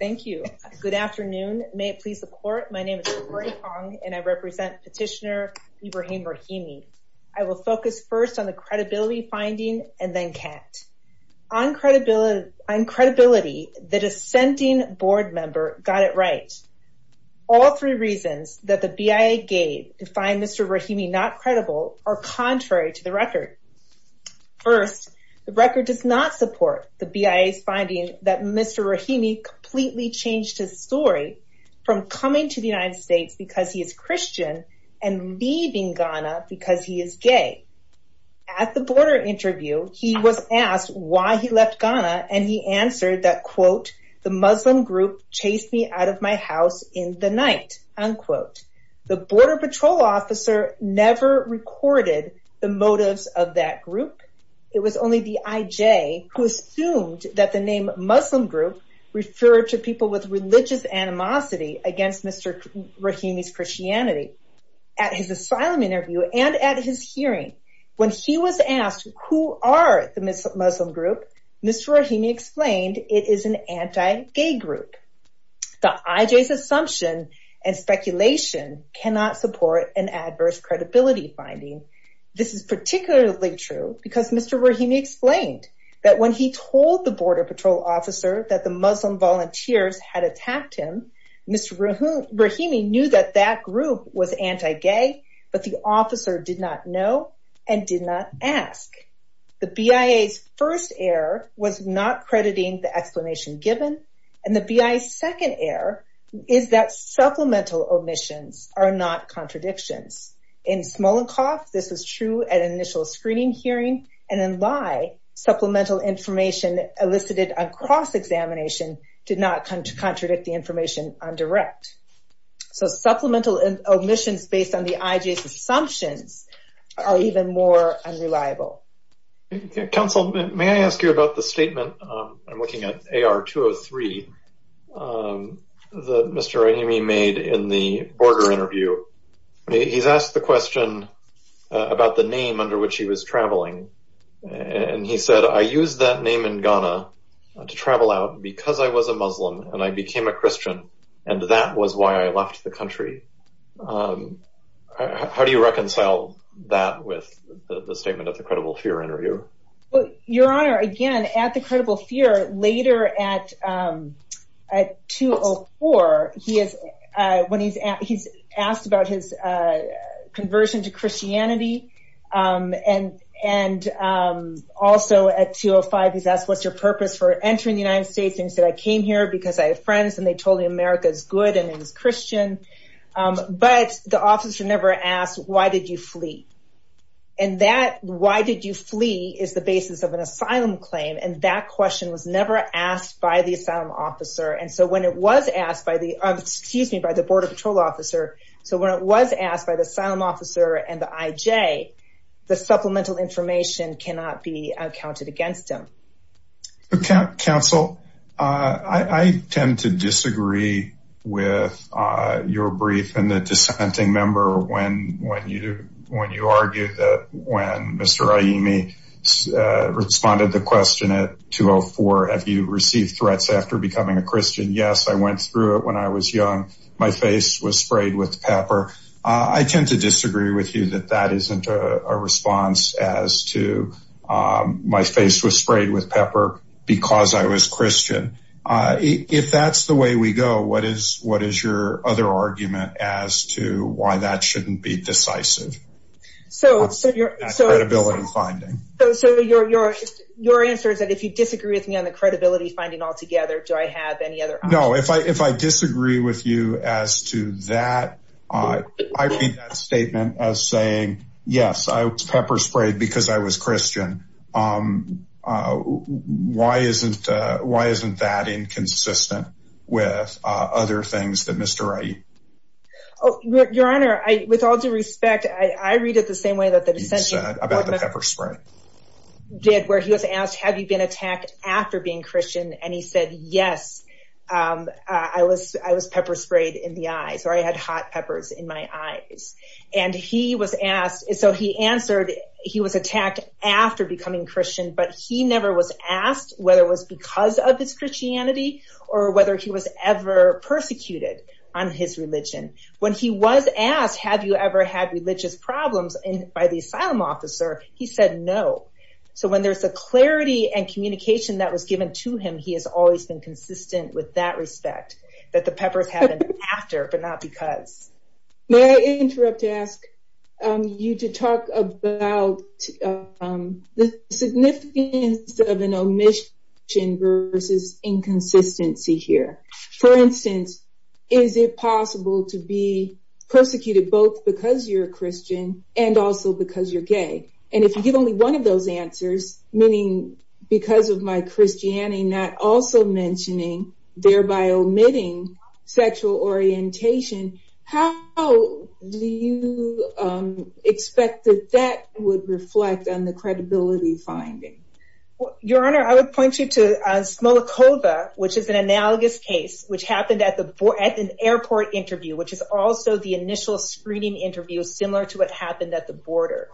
Thank you. Good afternoon. May it please the court. My name is Victoria Hong and I represent petitioner Ibrahim Raimi. I will focus first on the credibility finding and then Kat. On credibility, the dissenting board member got it right. All three reasons that the BIA gave to find Mr. Raimi not credible are contrary to the record. First, the record does not support the BIA's finding that Mr. Raimi completely changed his story from coming to the United States because he is Christian and leaving Ghana because he is gay. At the border interview, he was asked why he left Ghana and he answered that, quote, the Muslim group chased me out of my house in the night, unquote. The border patrol officer never recorded the motives of that group. It was only the IJ who assumed that the name Muslim group referred to people with religious animosity against Mr. Raimi's Christianity. At his asylum interview and at his hearing, when he was asked who are the Muslim group, Mr. Raimi explained it is an anti-gay group. The IJ's assumption and speculation cannot support an adverse credibility finding. This is particularly true because Mr. Raimi explained that when he told the border patrol officer that the Muslim volunteers had attacked him, Mr. Raimi knew that that group was anti-gay, but the officer did not know and did not ask. The BIA's first error was not crediting the explanation given and the BIA's second error is that supplemental omissions are not contradictions. In Smolenkov, this was true at initial screening hearing and in Lai, supplemental information elicited on cross-examination did not contradict the information on direct. So supplemental omissions based on the IJ's assumptions are even more unreliable. Council, may I ask you about the statement, I'm looking at AR 203, that Mr. Raimi made in the border interview. He's asked the question about the name under which he was traveling and he said, I used that name in Ghana to travel out because I was a Muslim and I became a Christian and that was why I left the country. How do you reconcile that with the statement of the credible fear interview? Your Honor, again, at the credible fear, later at 204, he's asked the question, he's asked about his conversion to Christianity and also at 205, he's asked what's your purpose for entering the United States and he said, I came here because I have friends and they told me America's good and it's Christian but the officer never asked, why did you flee? And that why did you flee is the basis of an asylum claim and that question was never asked by the asylum officer and so when it was asked by the, excuse me, by the border patrol officer, so when it was asked by the asylum officer and the IJ, the supplemental information cannot be counted against him. Counsel, I tend to disagree with your brief and the dissenting member when you argue that when Mr. Aimi responded to the question at 204, have you received threats after becoming a Christian? Yes, I went through it when I was young. My face was sprayed with pepper. I tend to disagree with you that that isn't a response as to my face was sprayed with pepper because I was Christian. If that's the way we go, what is your other argument as to why that shouldn't be decisive? So your answer is that if you disagree with me on the credibility finding altogether, do I have any other? No, if I disagree with you as to that, I read that statement as saying, yes, I was pepper sprayed because I was Christian. Why isn't that inconsistent with other things that Mr. Aimi? Your Honor, with all due respect, I read it the same way that the dissenting about the pepper spray. Did where he was asked, have you been attacked after being Christian? And he said, yes, I was pepper sprayed in the eyes or I had hot peppers in my eyes. And he was asked, so he answered, he was attacked after becoming Christian, but he never was asked whether it was because of his Christianity or whether he was ever persecuted on his religion. When he was asked, have you ever had religious problems by the asylum officer? He said, no. So when there's a clarity and communication that was given to him, he has always been consistent with that respect that the peppers happened after, but not because. May I interrupt to ask you to talk about the significance of an omission versus inconsistency here. For instance, is it possible to be persecuted both because you're a Christian and also because you're gay? And if you give only one of those answers, meaning because of my Christianity, not also mentioning thereby omitting sexual orientation, how do you expect that that would reflect on the credibility finding? Your Honor, I would point you to Smolakova, which is an analogous case, which happened at an airport interview, which is also the initial screening interview, similar to what happened at the border.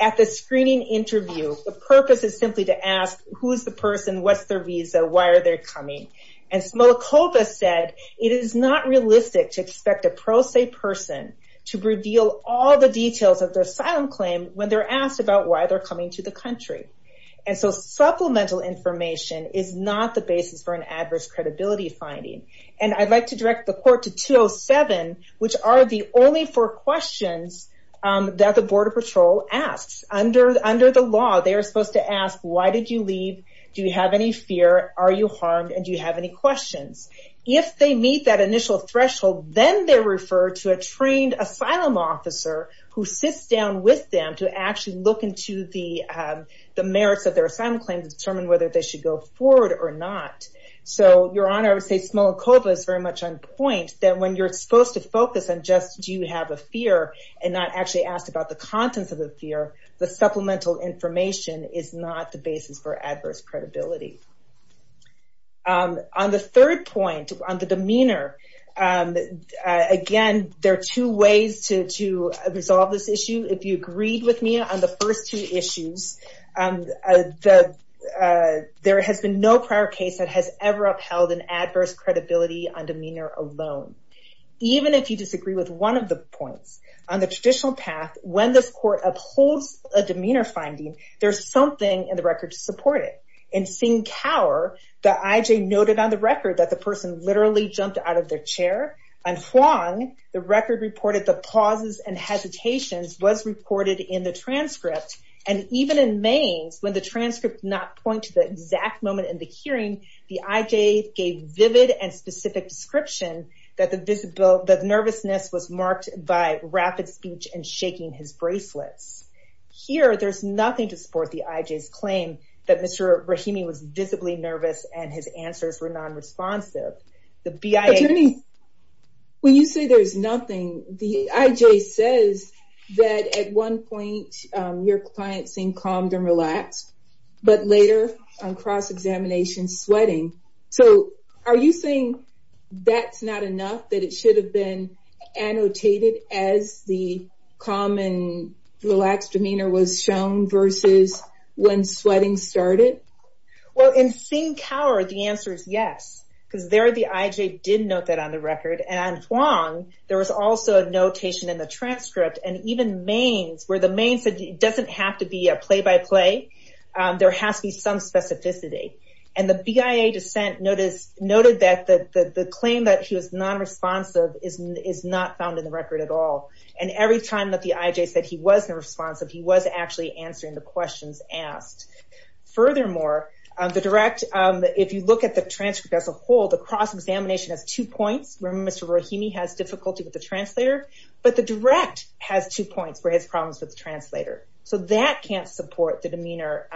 At the screening interview, the purpose is simply to ask who's the person, what's their visa, why are they coming? And Smolakova said, it is not realistic to expect a pro se person to reveal all the details of their asylum claim when they're asked about why they're coming to the country. And so supplemental information is not the basis for an adverse credibility finding. And I'd like to direct the court to 207, which are the only four questions that the border patrol asks. Under the law, they are supposed to ask, why did you leave? Do you have any fear? Are you harmed? And do you have any questions? If they meet that initial threshold, then they're referred to a trained asylum officer who sits down with them to actually look into the merits of their asylum claim to determine whether they should go forward or not. So Your Honor, I would say Smolakova is very much on point that when you're supposed to focus on just, do you have a fear? And not actually asked about the contents of the fear, the supplemental information is not the basis for adverse credibility. On the third point, on the demeanor, again, there are two ways to resolve this issue. If you agreed with me on the first two issues, there has been no prior case that has ever upheld an adverse credibility on demeanor alone. Even if you disagree with one of the points, on the traditional path, when this court upholds a demeanor finding, there's something in the record to support it. In Tsingtao, the IJ noted on the record that the person literally jumped out of their chair. On Huang, the record reported the pauses and hesitations was reported in the transcript. And even in Mainz, when the transcript not point to the exact moment in the hearing, the IJ gave vivid and specific description that the nervousness was marked by rapid speech and shaking his bracelets. Here, there's nothing to support the IJ's claim that Mr. Rahimi was visibly nervous and his answers were non-responsive. The BIA- Attorney, when you say there's nothing, the IJ says that at one point, your client seemed calmed and relaxed, but later on cross-examination, sweating. So are you saying that's not enough, that it should have been annotated as the calm and relaxed demeanor was shown versus when sweating started? Well, in Tsingtao, the answer is yes, because there, the IJ did note that on the record. And on Huang, there was also a notation in the transcript and even Mainz, where the Mainz said, it doesn't have to be a play-by-play, there has to be some specificity. And the BIA dissent noted that the claim that he was non-responsive is not found in the record at all. And every time that the IJ said he wasn't responsive, he was actually answering the questions asked. Furthermore, the direct, if you look at the transcript as a whole, the cross-examination has two points, where Mr. Rahimi has difficulty with the translator, but the direct has two points where he has problems with the translator. So that can't support the demeanor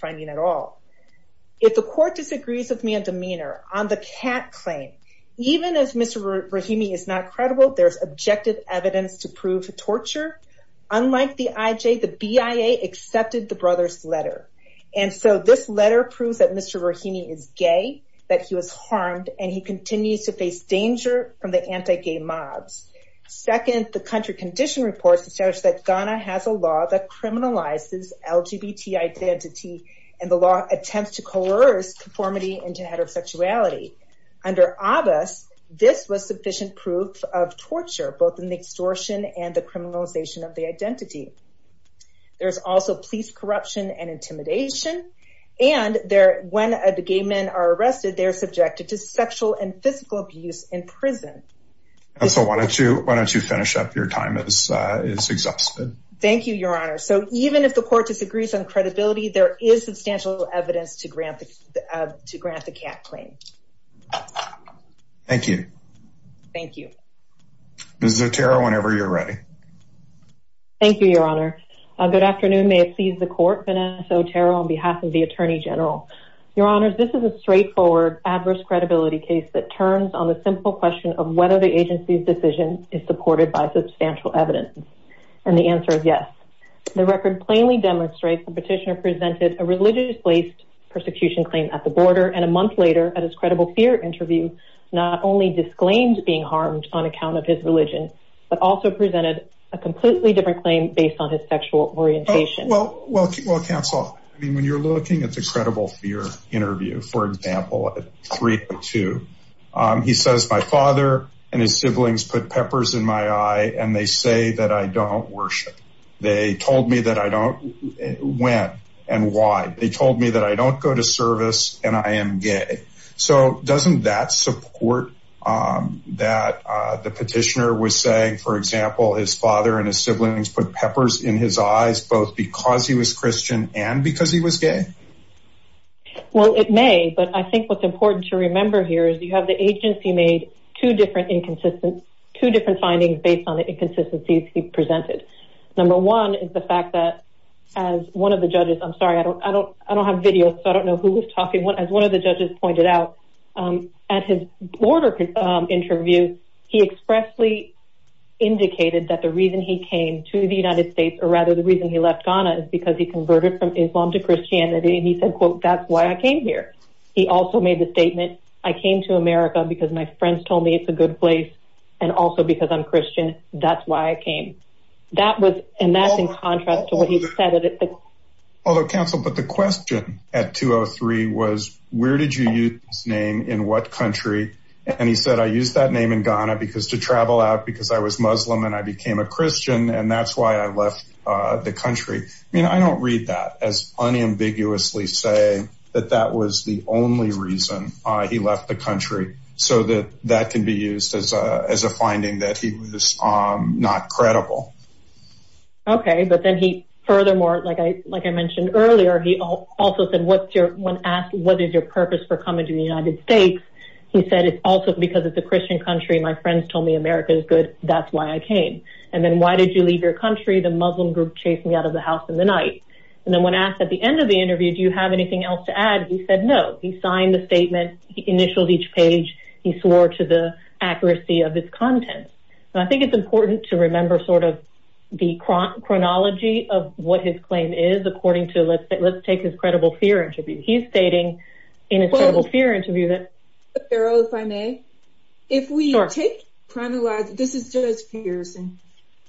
finding at all. If the court disagrees with me on demeanor, on the cat claim, even as Mr. Rahimi is not credible, there's objective evidence to prove torture. Unlike the IJ, the BIA accepted the brother's letter. And so this letter proves that Mr. Rahimi is gay, that he was harmed and he continues to face danger from the anti-gay mobs. Second, the country condition reports establish that Ghana has a law that criminalizes LGBT identity and the law attempts to coerce conformity into heterosexuality. Under Abbas, this was sufficient proof of torture, both in the extortion and the criminalization of the identity. There's also police corruption and intimidation. And when the gay men are arrested, they're subjected to sexual and physical abuse in prison. And so why don't you finish up? Your time is exhausted. Thank you, Your Honor. So even if the court disagrees on credibility, there is substantial evidence to grant the cat claim. Thank you. Thank you. Ms. Otero, whenever you're ready. Thank you, Your Honor. Good afternoon. May it please the court, Vanessa Otero on behalf of the Attorney General. Your Honors, this is a straightforward adverse credibility case that turns on the simple question of whether the agency's decision is supported by substantial evidence. And the answer is yes. The record plainly demonstrates the petitioner presented a religiously persecution claim at the border and a month later at his credible fear interview, not only disclaimed being harmed on account of his religion, but also presented a completely different claim based on his sexual orientation. Well, counsel, I mean, when you're looking at the credible fear interview, for example, at three or two, he says, my father and his siblings put peppers in my eye and they say that I don't worship. They told me that I don't, when and why? They told me that I don't go to service and I am gay. So doesn't that support that the petitioner was saying, for example, his father and his siblings put peppers in his eyes, both because he was Christian and because he was gay? Well, it may, but I think what's important to remember here is you have the agency made two different inconsistent, two different findings based on the inconsistencies he presented. Number one is the fact that as one of the judges, I'm sorry, I don't have video, so I don't know who was talking. As one of the judges pointed out at his border interview, he expressly indicated that the reason he came to the United States or rather the reason he left Ghana is because he converted from Islam to Christianity and he said, quote, that's why I came here. He also made the statement, I came to America because my friends told me it's a good place and also because I'm Christian, that's why I came. That was, and that's in contrast to what he said. Although counsel, but the question at 203 was where did you use his name in what country? And he said, I used that name in Ghana because to travel out because I was Muslim and I became a Christian and that's why I left the country. I mean, I don't read that as unambiguously say that that was the only reason he left the country so that that can be used as a finding that he was not credible. Okay, but then he furthermore, like I mentioned earlier, he also said, when asked what is your purpose for coming to the United States? He said, it's also because it's a Christian country. My friends told me America is good, that's why I came. And then why did you leave your country? The Muslim group chased me out of the house in the night. And then when asked at the end of the interview, do you have anything else to add? He said, no, he signed the statement, he initialed each page, he swore to the accuracy of his content. And I think it's important to remember sort of the chronology of what his claim is according to let's take his credible fear interview. He's stating in his credible fear interview that. If I may, if we take chronologically, this is Judge Pearson.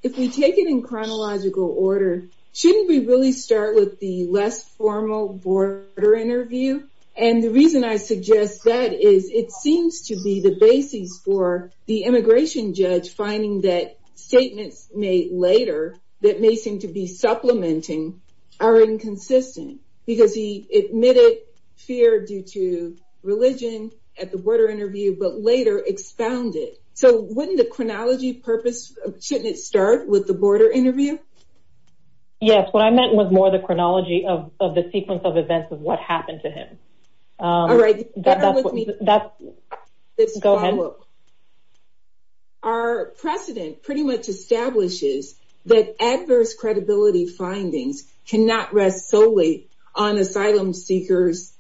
If we take it in chronological order, shouldn't we really start with the less formal border interview? And the reason I suggest that is it seems to be the basis for the immigration judge finding that statements made later that may seem to be supplementing are inconsistent because he admitted fear due to religion at the border interview, but later expounded. So wouldn't the chronology purpose, shouldn't it start with the border interview? Yes, what I meant was more the chronology of the sequence of events of what happened to him. All right, bear with me. That's, go ahead. Our precedent pretty much establishes that adverse credibility findings cannot rest solely on asylum seekers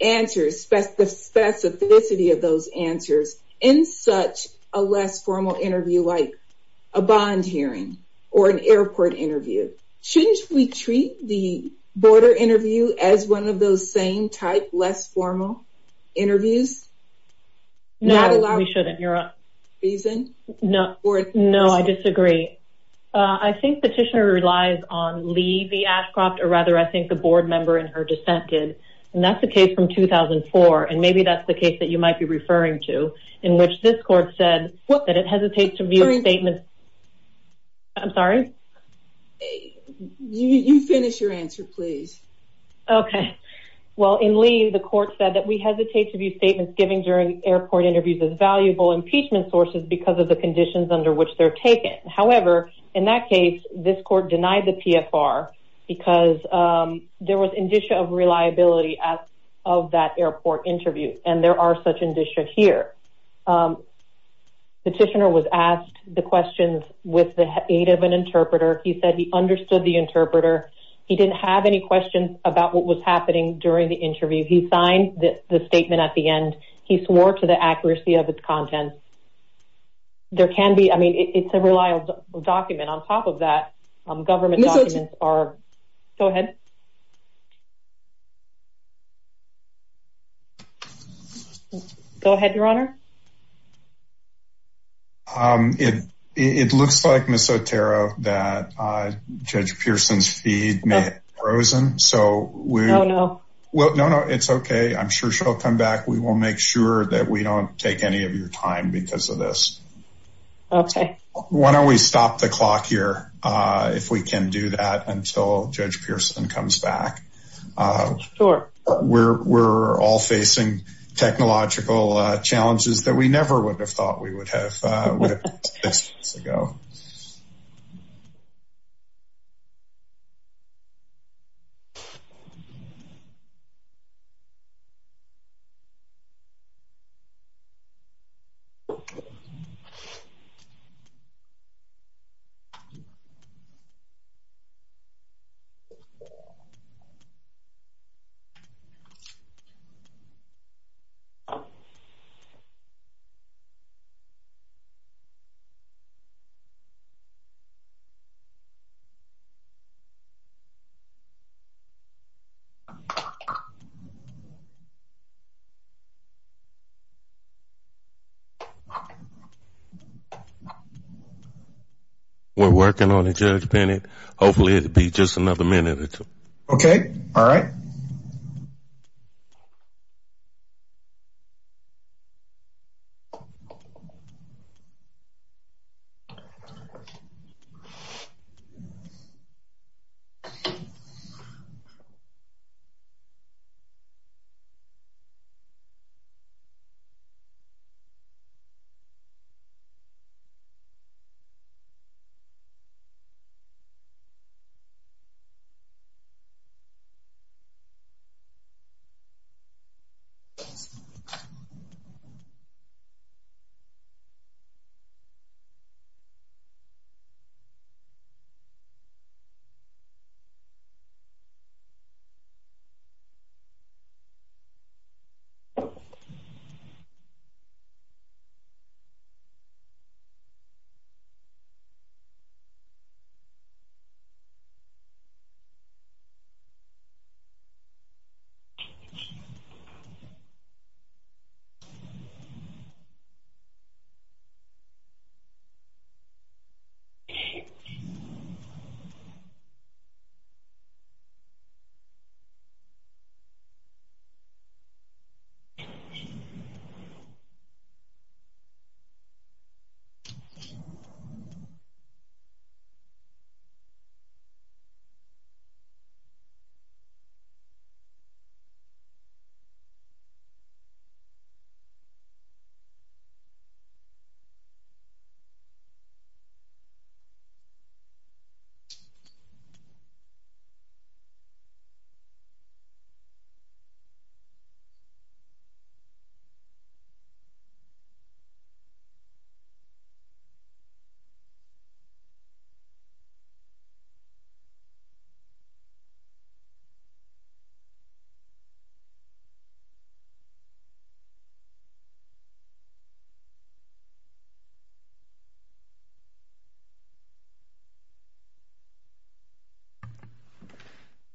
answers, the specificity of those answers in such a less formal interview like a bond hearing or an airport interview. Shouldn't we treat the border interview as one of those same type less formal interviews? No, we shouldn't, you're up. Reason? No, no, I disagree. I think petitioner relies on Lee V. Ashcroft or rather I think the board member in her dissent did. And that's the case from 2004. And maybe that's the case that you might be referring to in which this court said that it hesitates to view statements. I'm sorry. You finish your answer, please. Okay, well, in Lee, the court said that we hesitate to view statements given during airport interviews as valuable impeachment sources because of the conditions under which they're taken. However, in that case, this court denied the PFR because there was indicia of reliability of that airport interview. And there are such indicia here. Petitioner was asked the questions with the aid of an interpreter. He said he understood the interpreter. He didn't have any questions about what was happening during the interview. He signed the statement at the end. He swore to the accuracy of its content. There can be, I mean, it's a reliable document. On top of that, government documents are... Go ahead. Go ahead, Your Honor. It looks like, Ms. Otero, that Judge Pearson's feed may have frozen. So we... No, no. Well, no, no, it's okay. I'm sure she'll come back. We will make sure that we don't take any of your time because of this. Okay. Why don't we stop the clock here if we can do that until Judge Pearson comes back. Sure. We're all facing technological challenges that we never would have thought we would have with this ago. Okay. We're working on it, Judge Bennett. Hopefully it'll be just another minute or two. Okay. All right. Thank you. Okay. Thank you. Thank you. Thank you. Thank you. Thank you.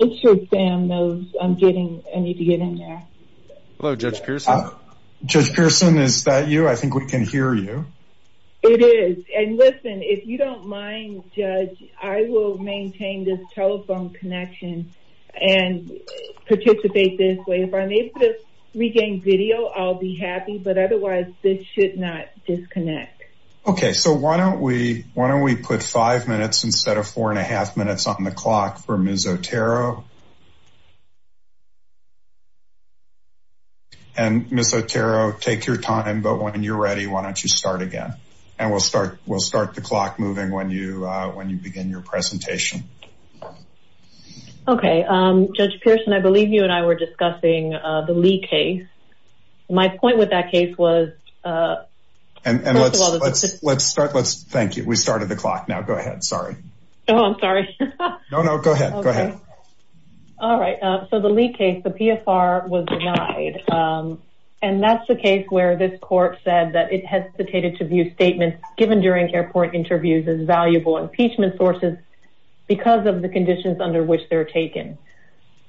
I'm sure Sam knows I need to get in there. Hello, Judge Pearson. Judge Pearson, is that you? I think we can hear you. It is. And listen, if you don't mind, Judge, I will maintain this telephone connection and participate this way. If I'm able to regain video, I'll be happy, but otherwise this should not disconnect. Okay. So why don't we put five minutes instead of four and a half minutes on the clock for Ms. Otero? And Ms. Otero, take your time, but when you're ready, why don't you start again? And we'll start the clock moving when you begin your presentation. Okay. Judge Pearson, I believe you and I were discussing the Lee case. My point with that case was- And let's start, let's thank you. We started the clock now. Go ahead. Sorry. Oh, I'm sorry. No, no, go ahead. Go ahead. All right. So the Lee case, the PFR was denied. And that's the case where this court said that it hesitated to view statements given during airport interviews as valuable impeachment sources because of the conditions under which they're taken.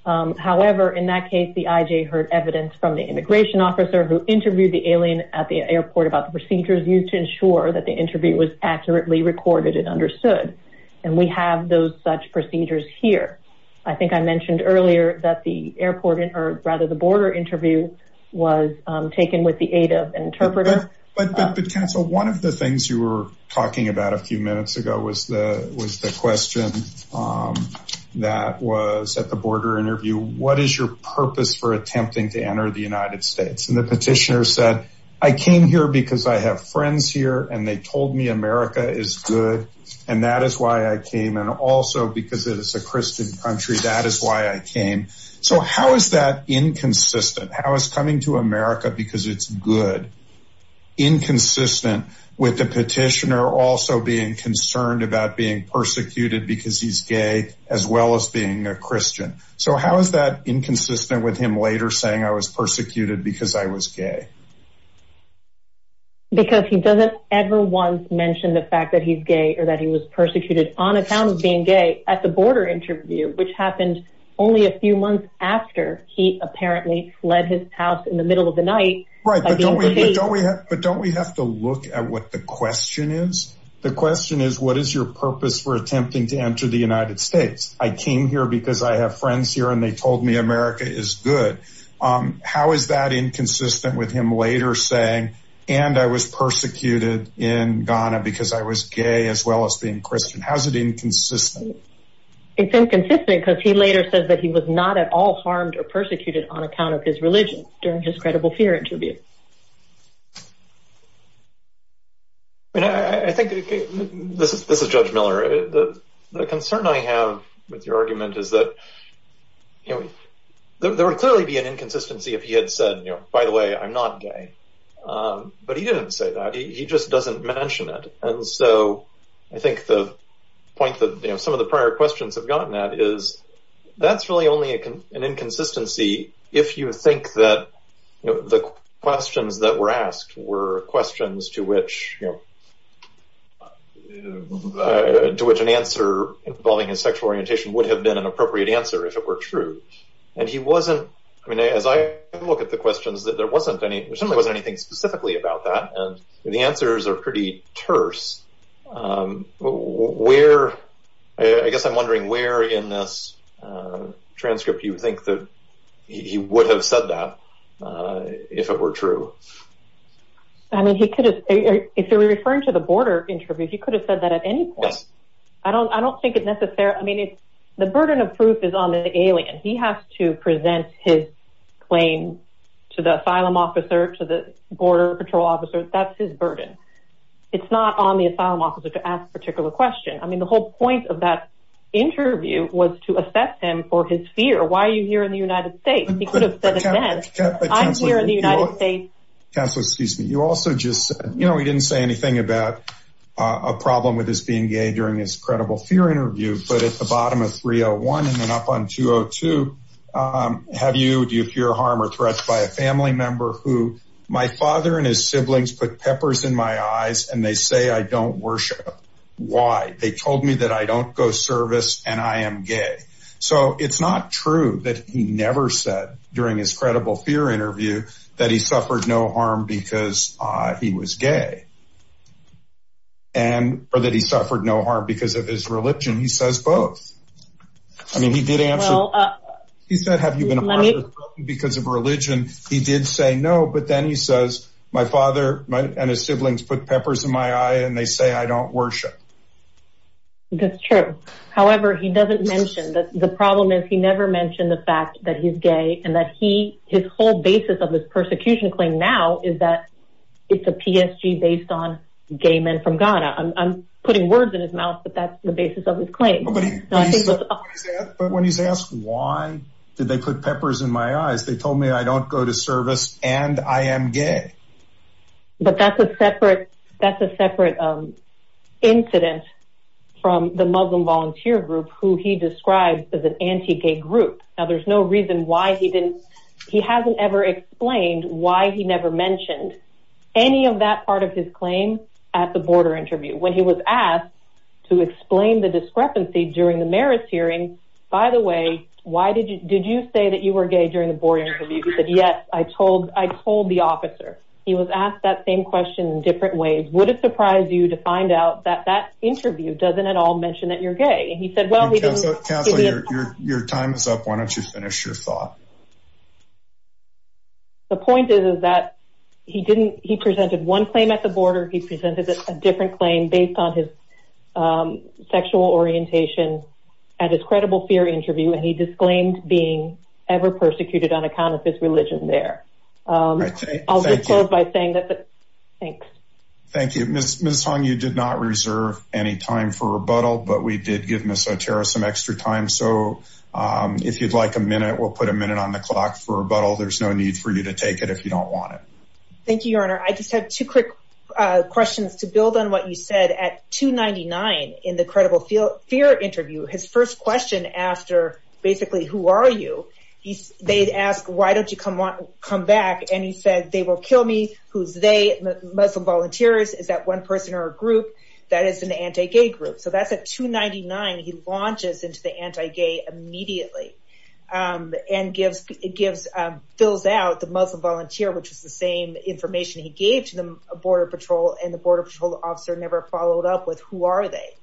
However, in that case, the IJ heard evidence from the immigration officer who interviewed the alien at the airport about the procedures used to ensure that the interview was accurately recorded and understood. And we have those such procedures here. I think I mentioned earlier that the airport, or rather the border interview was taken with the aid of an interpreter. But counsel, one of the things you were talking about a few minutes ago was the question that was at the border interview. What is your purpose for attempting to enter the United States? And the petitioner said, I came here because I have friends here and they told me America is good. And that is why I came. And also because it is a Christian country, that is why I came. So how is that inconsistent? How is coming to America because it's good inconsistent with the petitioner also being concerned about being persecuted because he's gay, as well as being a Christian. So how is that inconsistent with him later saying, I was persecuted because I was gay? Because he doesn't ever once mention the fact that he's gay or that he was persecuted on account of being gay at the border interview, which happened only a few months after he apparently fled his house in the middle of the night. Right, but don't we have to look at what the question is? The question is, what is your purpose for attempting to enter the United States? I came here because I have friends here and they told me America is good. How is that inconsistent with him later saying, and I was persecuted in Ghana because I was gay as well as being Christian. How's it inconsistent? It's inconsistent because he later says that he was not at all harmed or persecuted on account of his religion during his credible fear interview. I think, this is Judge Miller. The concern I have with your argument is that, there would clearly be an inconsistency if he had said, you know, by the way, I'm not gay. But he didn't say that, he just doesn't mention it. And so I think the point that some of the prior questions have gotten at is, that's really only an inconsistency if you think that the question is, the questions that were asked were questions to which, to which an answer involving his sexual orientation would have been an appropriate answer if it were true. And he wasn't, I mean, as I look at the questions that there wasn't any, there certainly wasn't anything specifically about that. And the answers are pretty terse. I guess I'm wondering where in this transcript you think that he would have said that if it were true. I mean, he could have, if you're referring to the border interview, he could have said that at any point. I don't think it necessarily, I mean, the burden of proof is on the alien. He has to present his claim to the asylum officer, to the border patrol officer, that's his burden. It's not on the asylum officer to ask a particular question. I mean, the whole point of that interview was to assess him for his fear. Why are you here in the United States? He could have said it then. I'm here in the United States. Counselor, excuse me. You also just said, you know, he didn't say anything about a problem with his being gay during his credible fear interview, but at the bottom of 301 and then up on 202, have you, do you fear harm or threat by a family member who, my father and his siblings put peppers in my eyes and they say I don't worship. Why? They told me that I don't go service and I am gay. So it's not true that he never said during his credible fear interview that he suffered no harm because he was gay and or that he suffered no harm because of his religion. He says both. I mean, he did answer. He said, have you been because of religion? He did say no, but then he says, my father and his siblings put peppers in my eye and they say I don't worship. That's true. However, he doesn't mention that. The problem is he never mentioned the fact that he's gay and that he, his whole basis of this persecution claim now is that it's a PSG based on gay men from Ghana. I'm putting words in his mouth, but that's the basis of his claim. But when he's asked, why did they put peppers in my eyes? They told me I don't go to service and I am gay, but that's a separate, that's a separate incident. From the Muslim volunteer group, who he describes as an anti-gay group. Now, there's no reason why he didn't. He hasn't ever explained why he never mentioned any of that part of his claim at the border interview when he was asked to explain the discrepancy during the Marist hearing. By the way, why did you, did you say that you were gay during the border interview? He said, yes, I told, I told the officer. He was asked that same question in different ways. Would it surprise you to find out that that interview doesn't at all mention that you're gay? And he said, well, we didn't. Counselor, your time is up. Why don't you finish your thought? The point is, is that he didn't, he presented one claim at the border. He presented a different claim based on his sexual orientation at his credible fear interview. And he disclaimed being ever persecuted on account of his religion there. I'll just close by saying that. Thanks. Thank you. Ms. Hong, you did not reserve any time for rebuttal, but we did give Ms. Otero some extra time. So if you'd like a minute, we'll put a minute on the clock for rebuttal. There's no need for you to take it if you don't want it. Thank you, your honor. I just have two quick questions to build on what you said at 299 in the credible fear interview. His first question after basically, who are you? They'd ask, why don't you come back? And he said, they will kill me. Who's they? Muslim volunteers. Is that one person or a group that is an anti-gay group? So that's at 299, he launches into the anti-gay immediately and fills out the Muslim volunteer, which is the same information he gave to the border patrol and the border patrol officer never followed up with, who are they?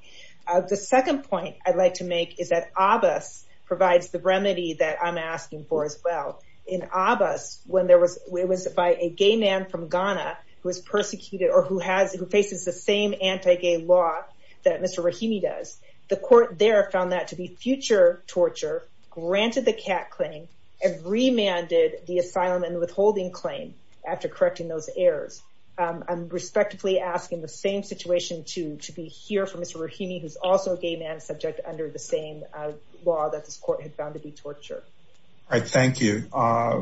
The second point I'd like to make is that Abbas provides the remedy that I'm asking for as well. In Abbas, it was by a gay man from Ghana who was persecuted or who faces the same anti-gay law that Mr. Rahimi does. The court there found that to be future torture, granted the cat claim and remanded the asylum and withholding claim after correcting those errors. I'm respectively asking the same situation to be here for Mr. Rahimi, who's also a gay man subject under the same law that this court had found to be torture. All right, thank you.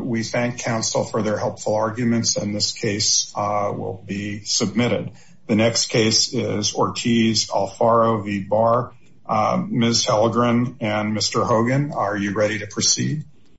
We thank counsel for their helpful arguments and this case will be submitted. The next case is Ortiz-Alfaro v. Barr. Ms. Hallegren and Mr. Hogan, are you ready to proceed?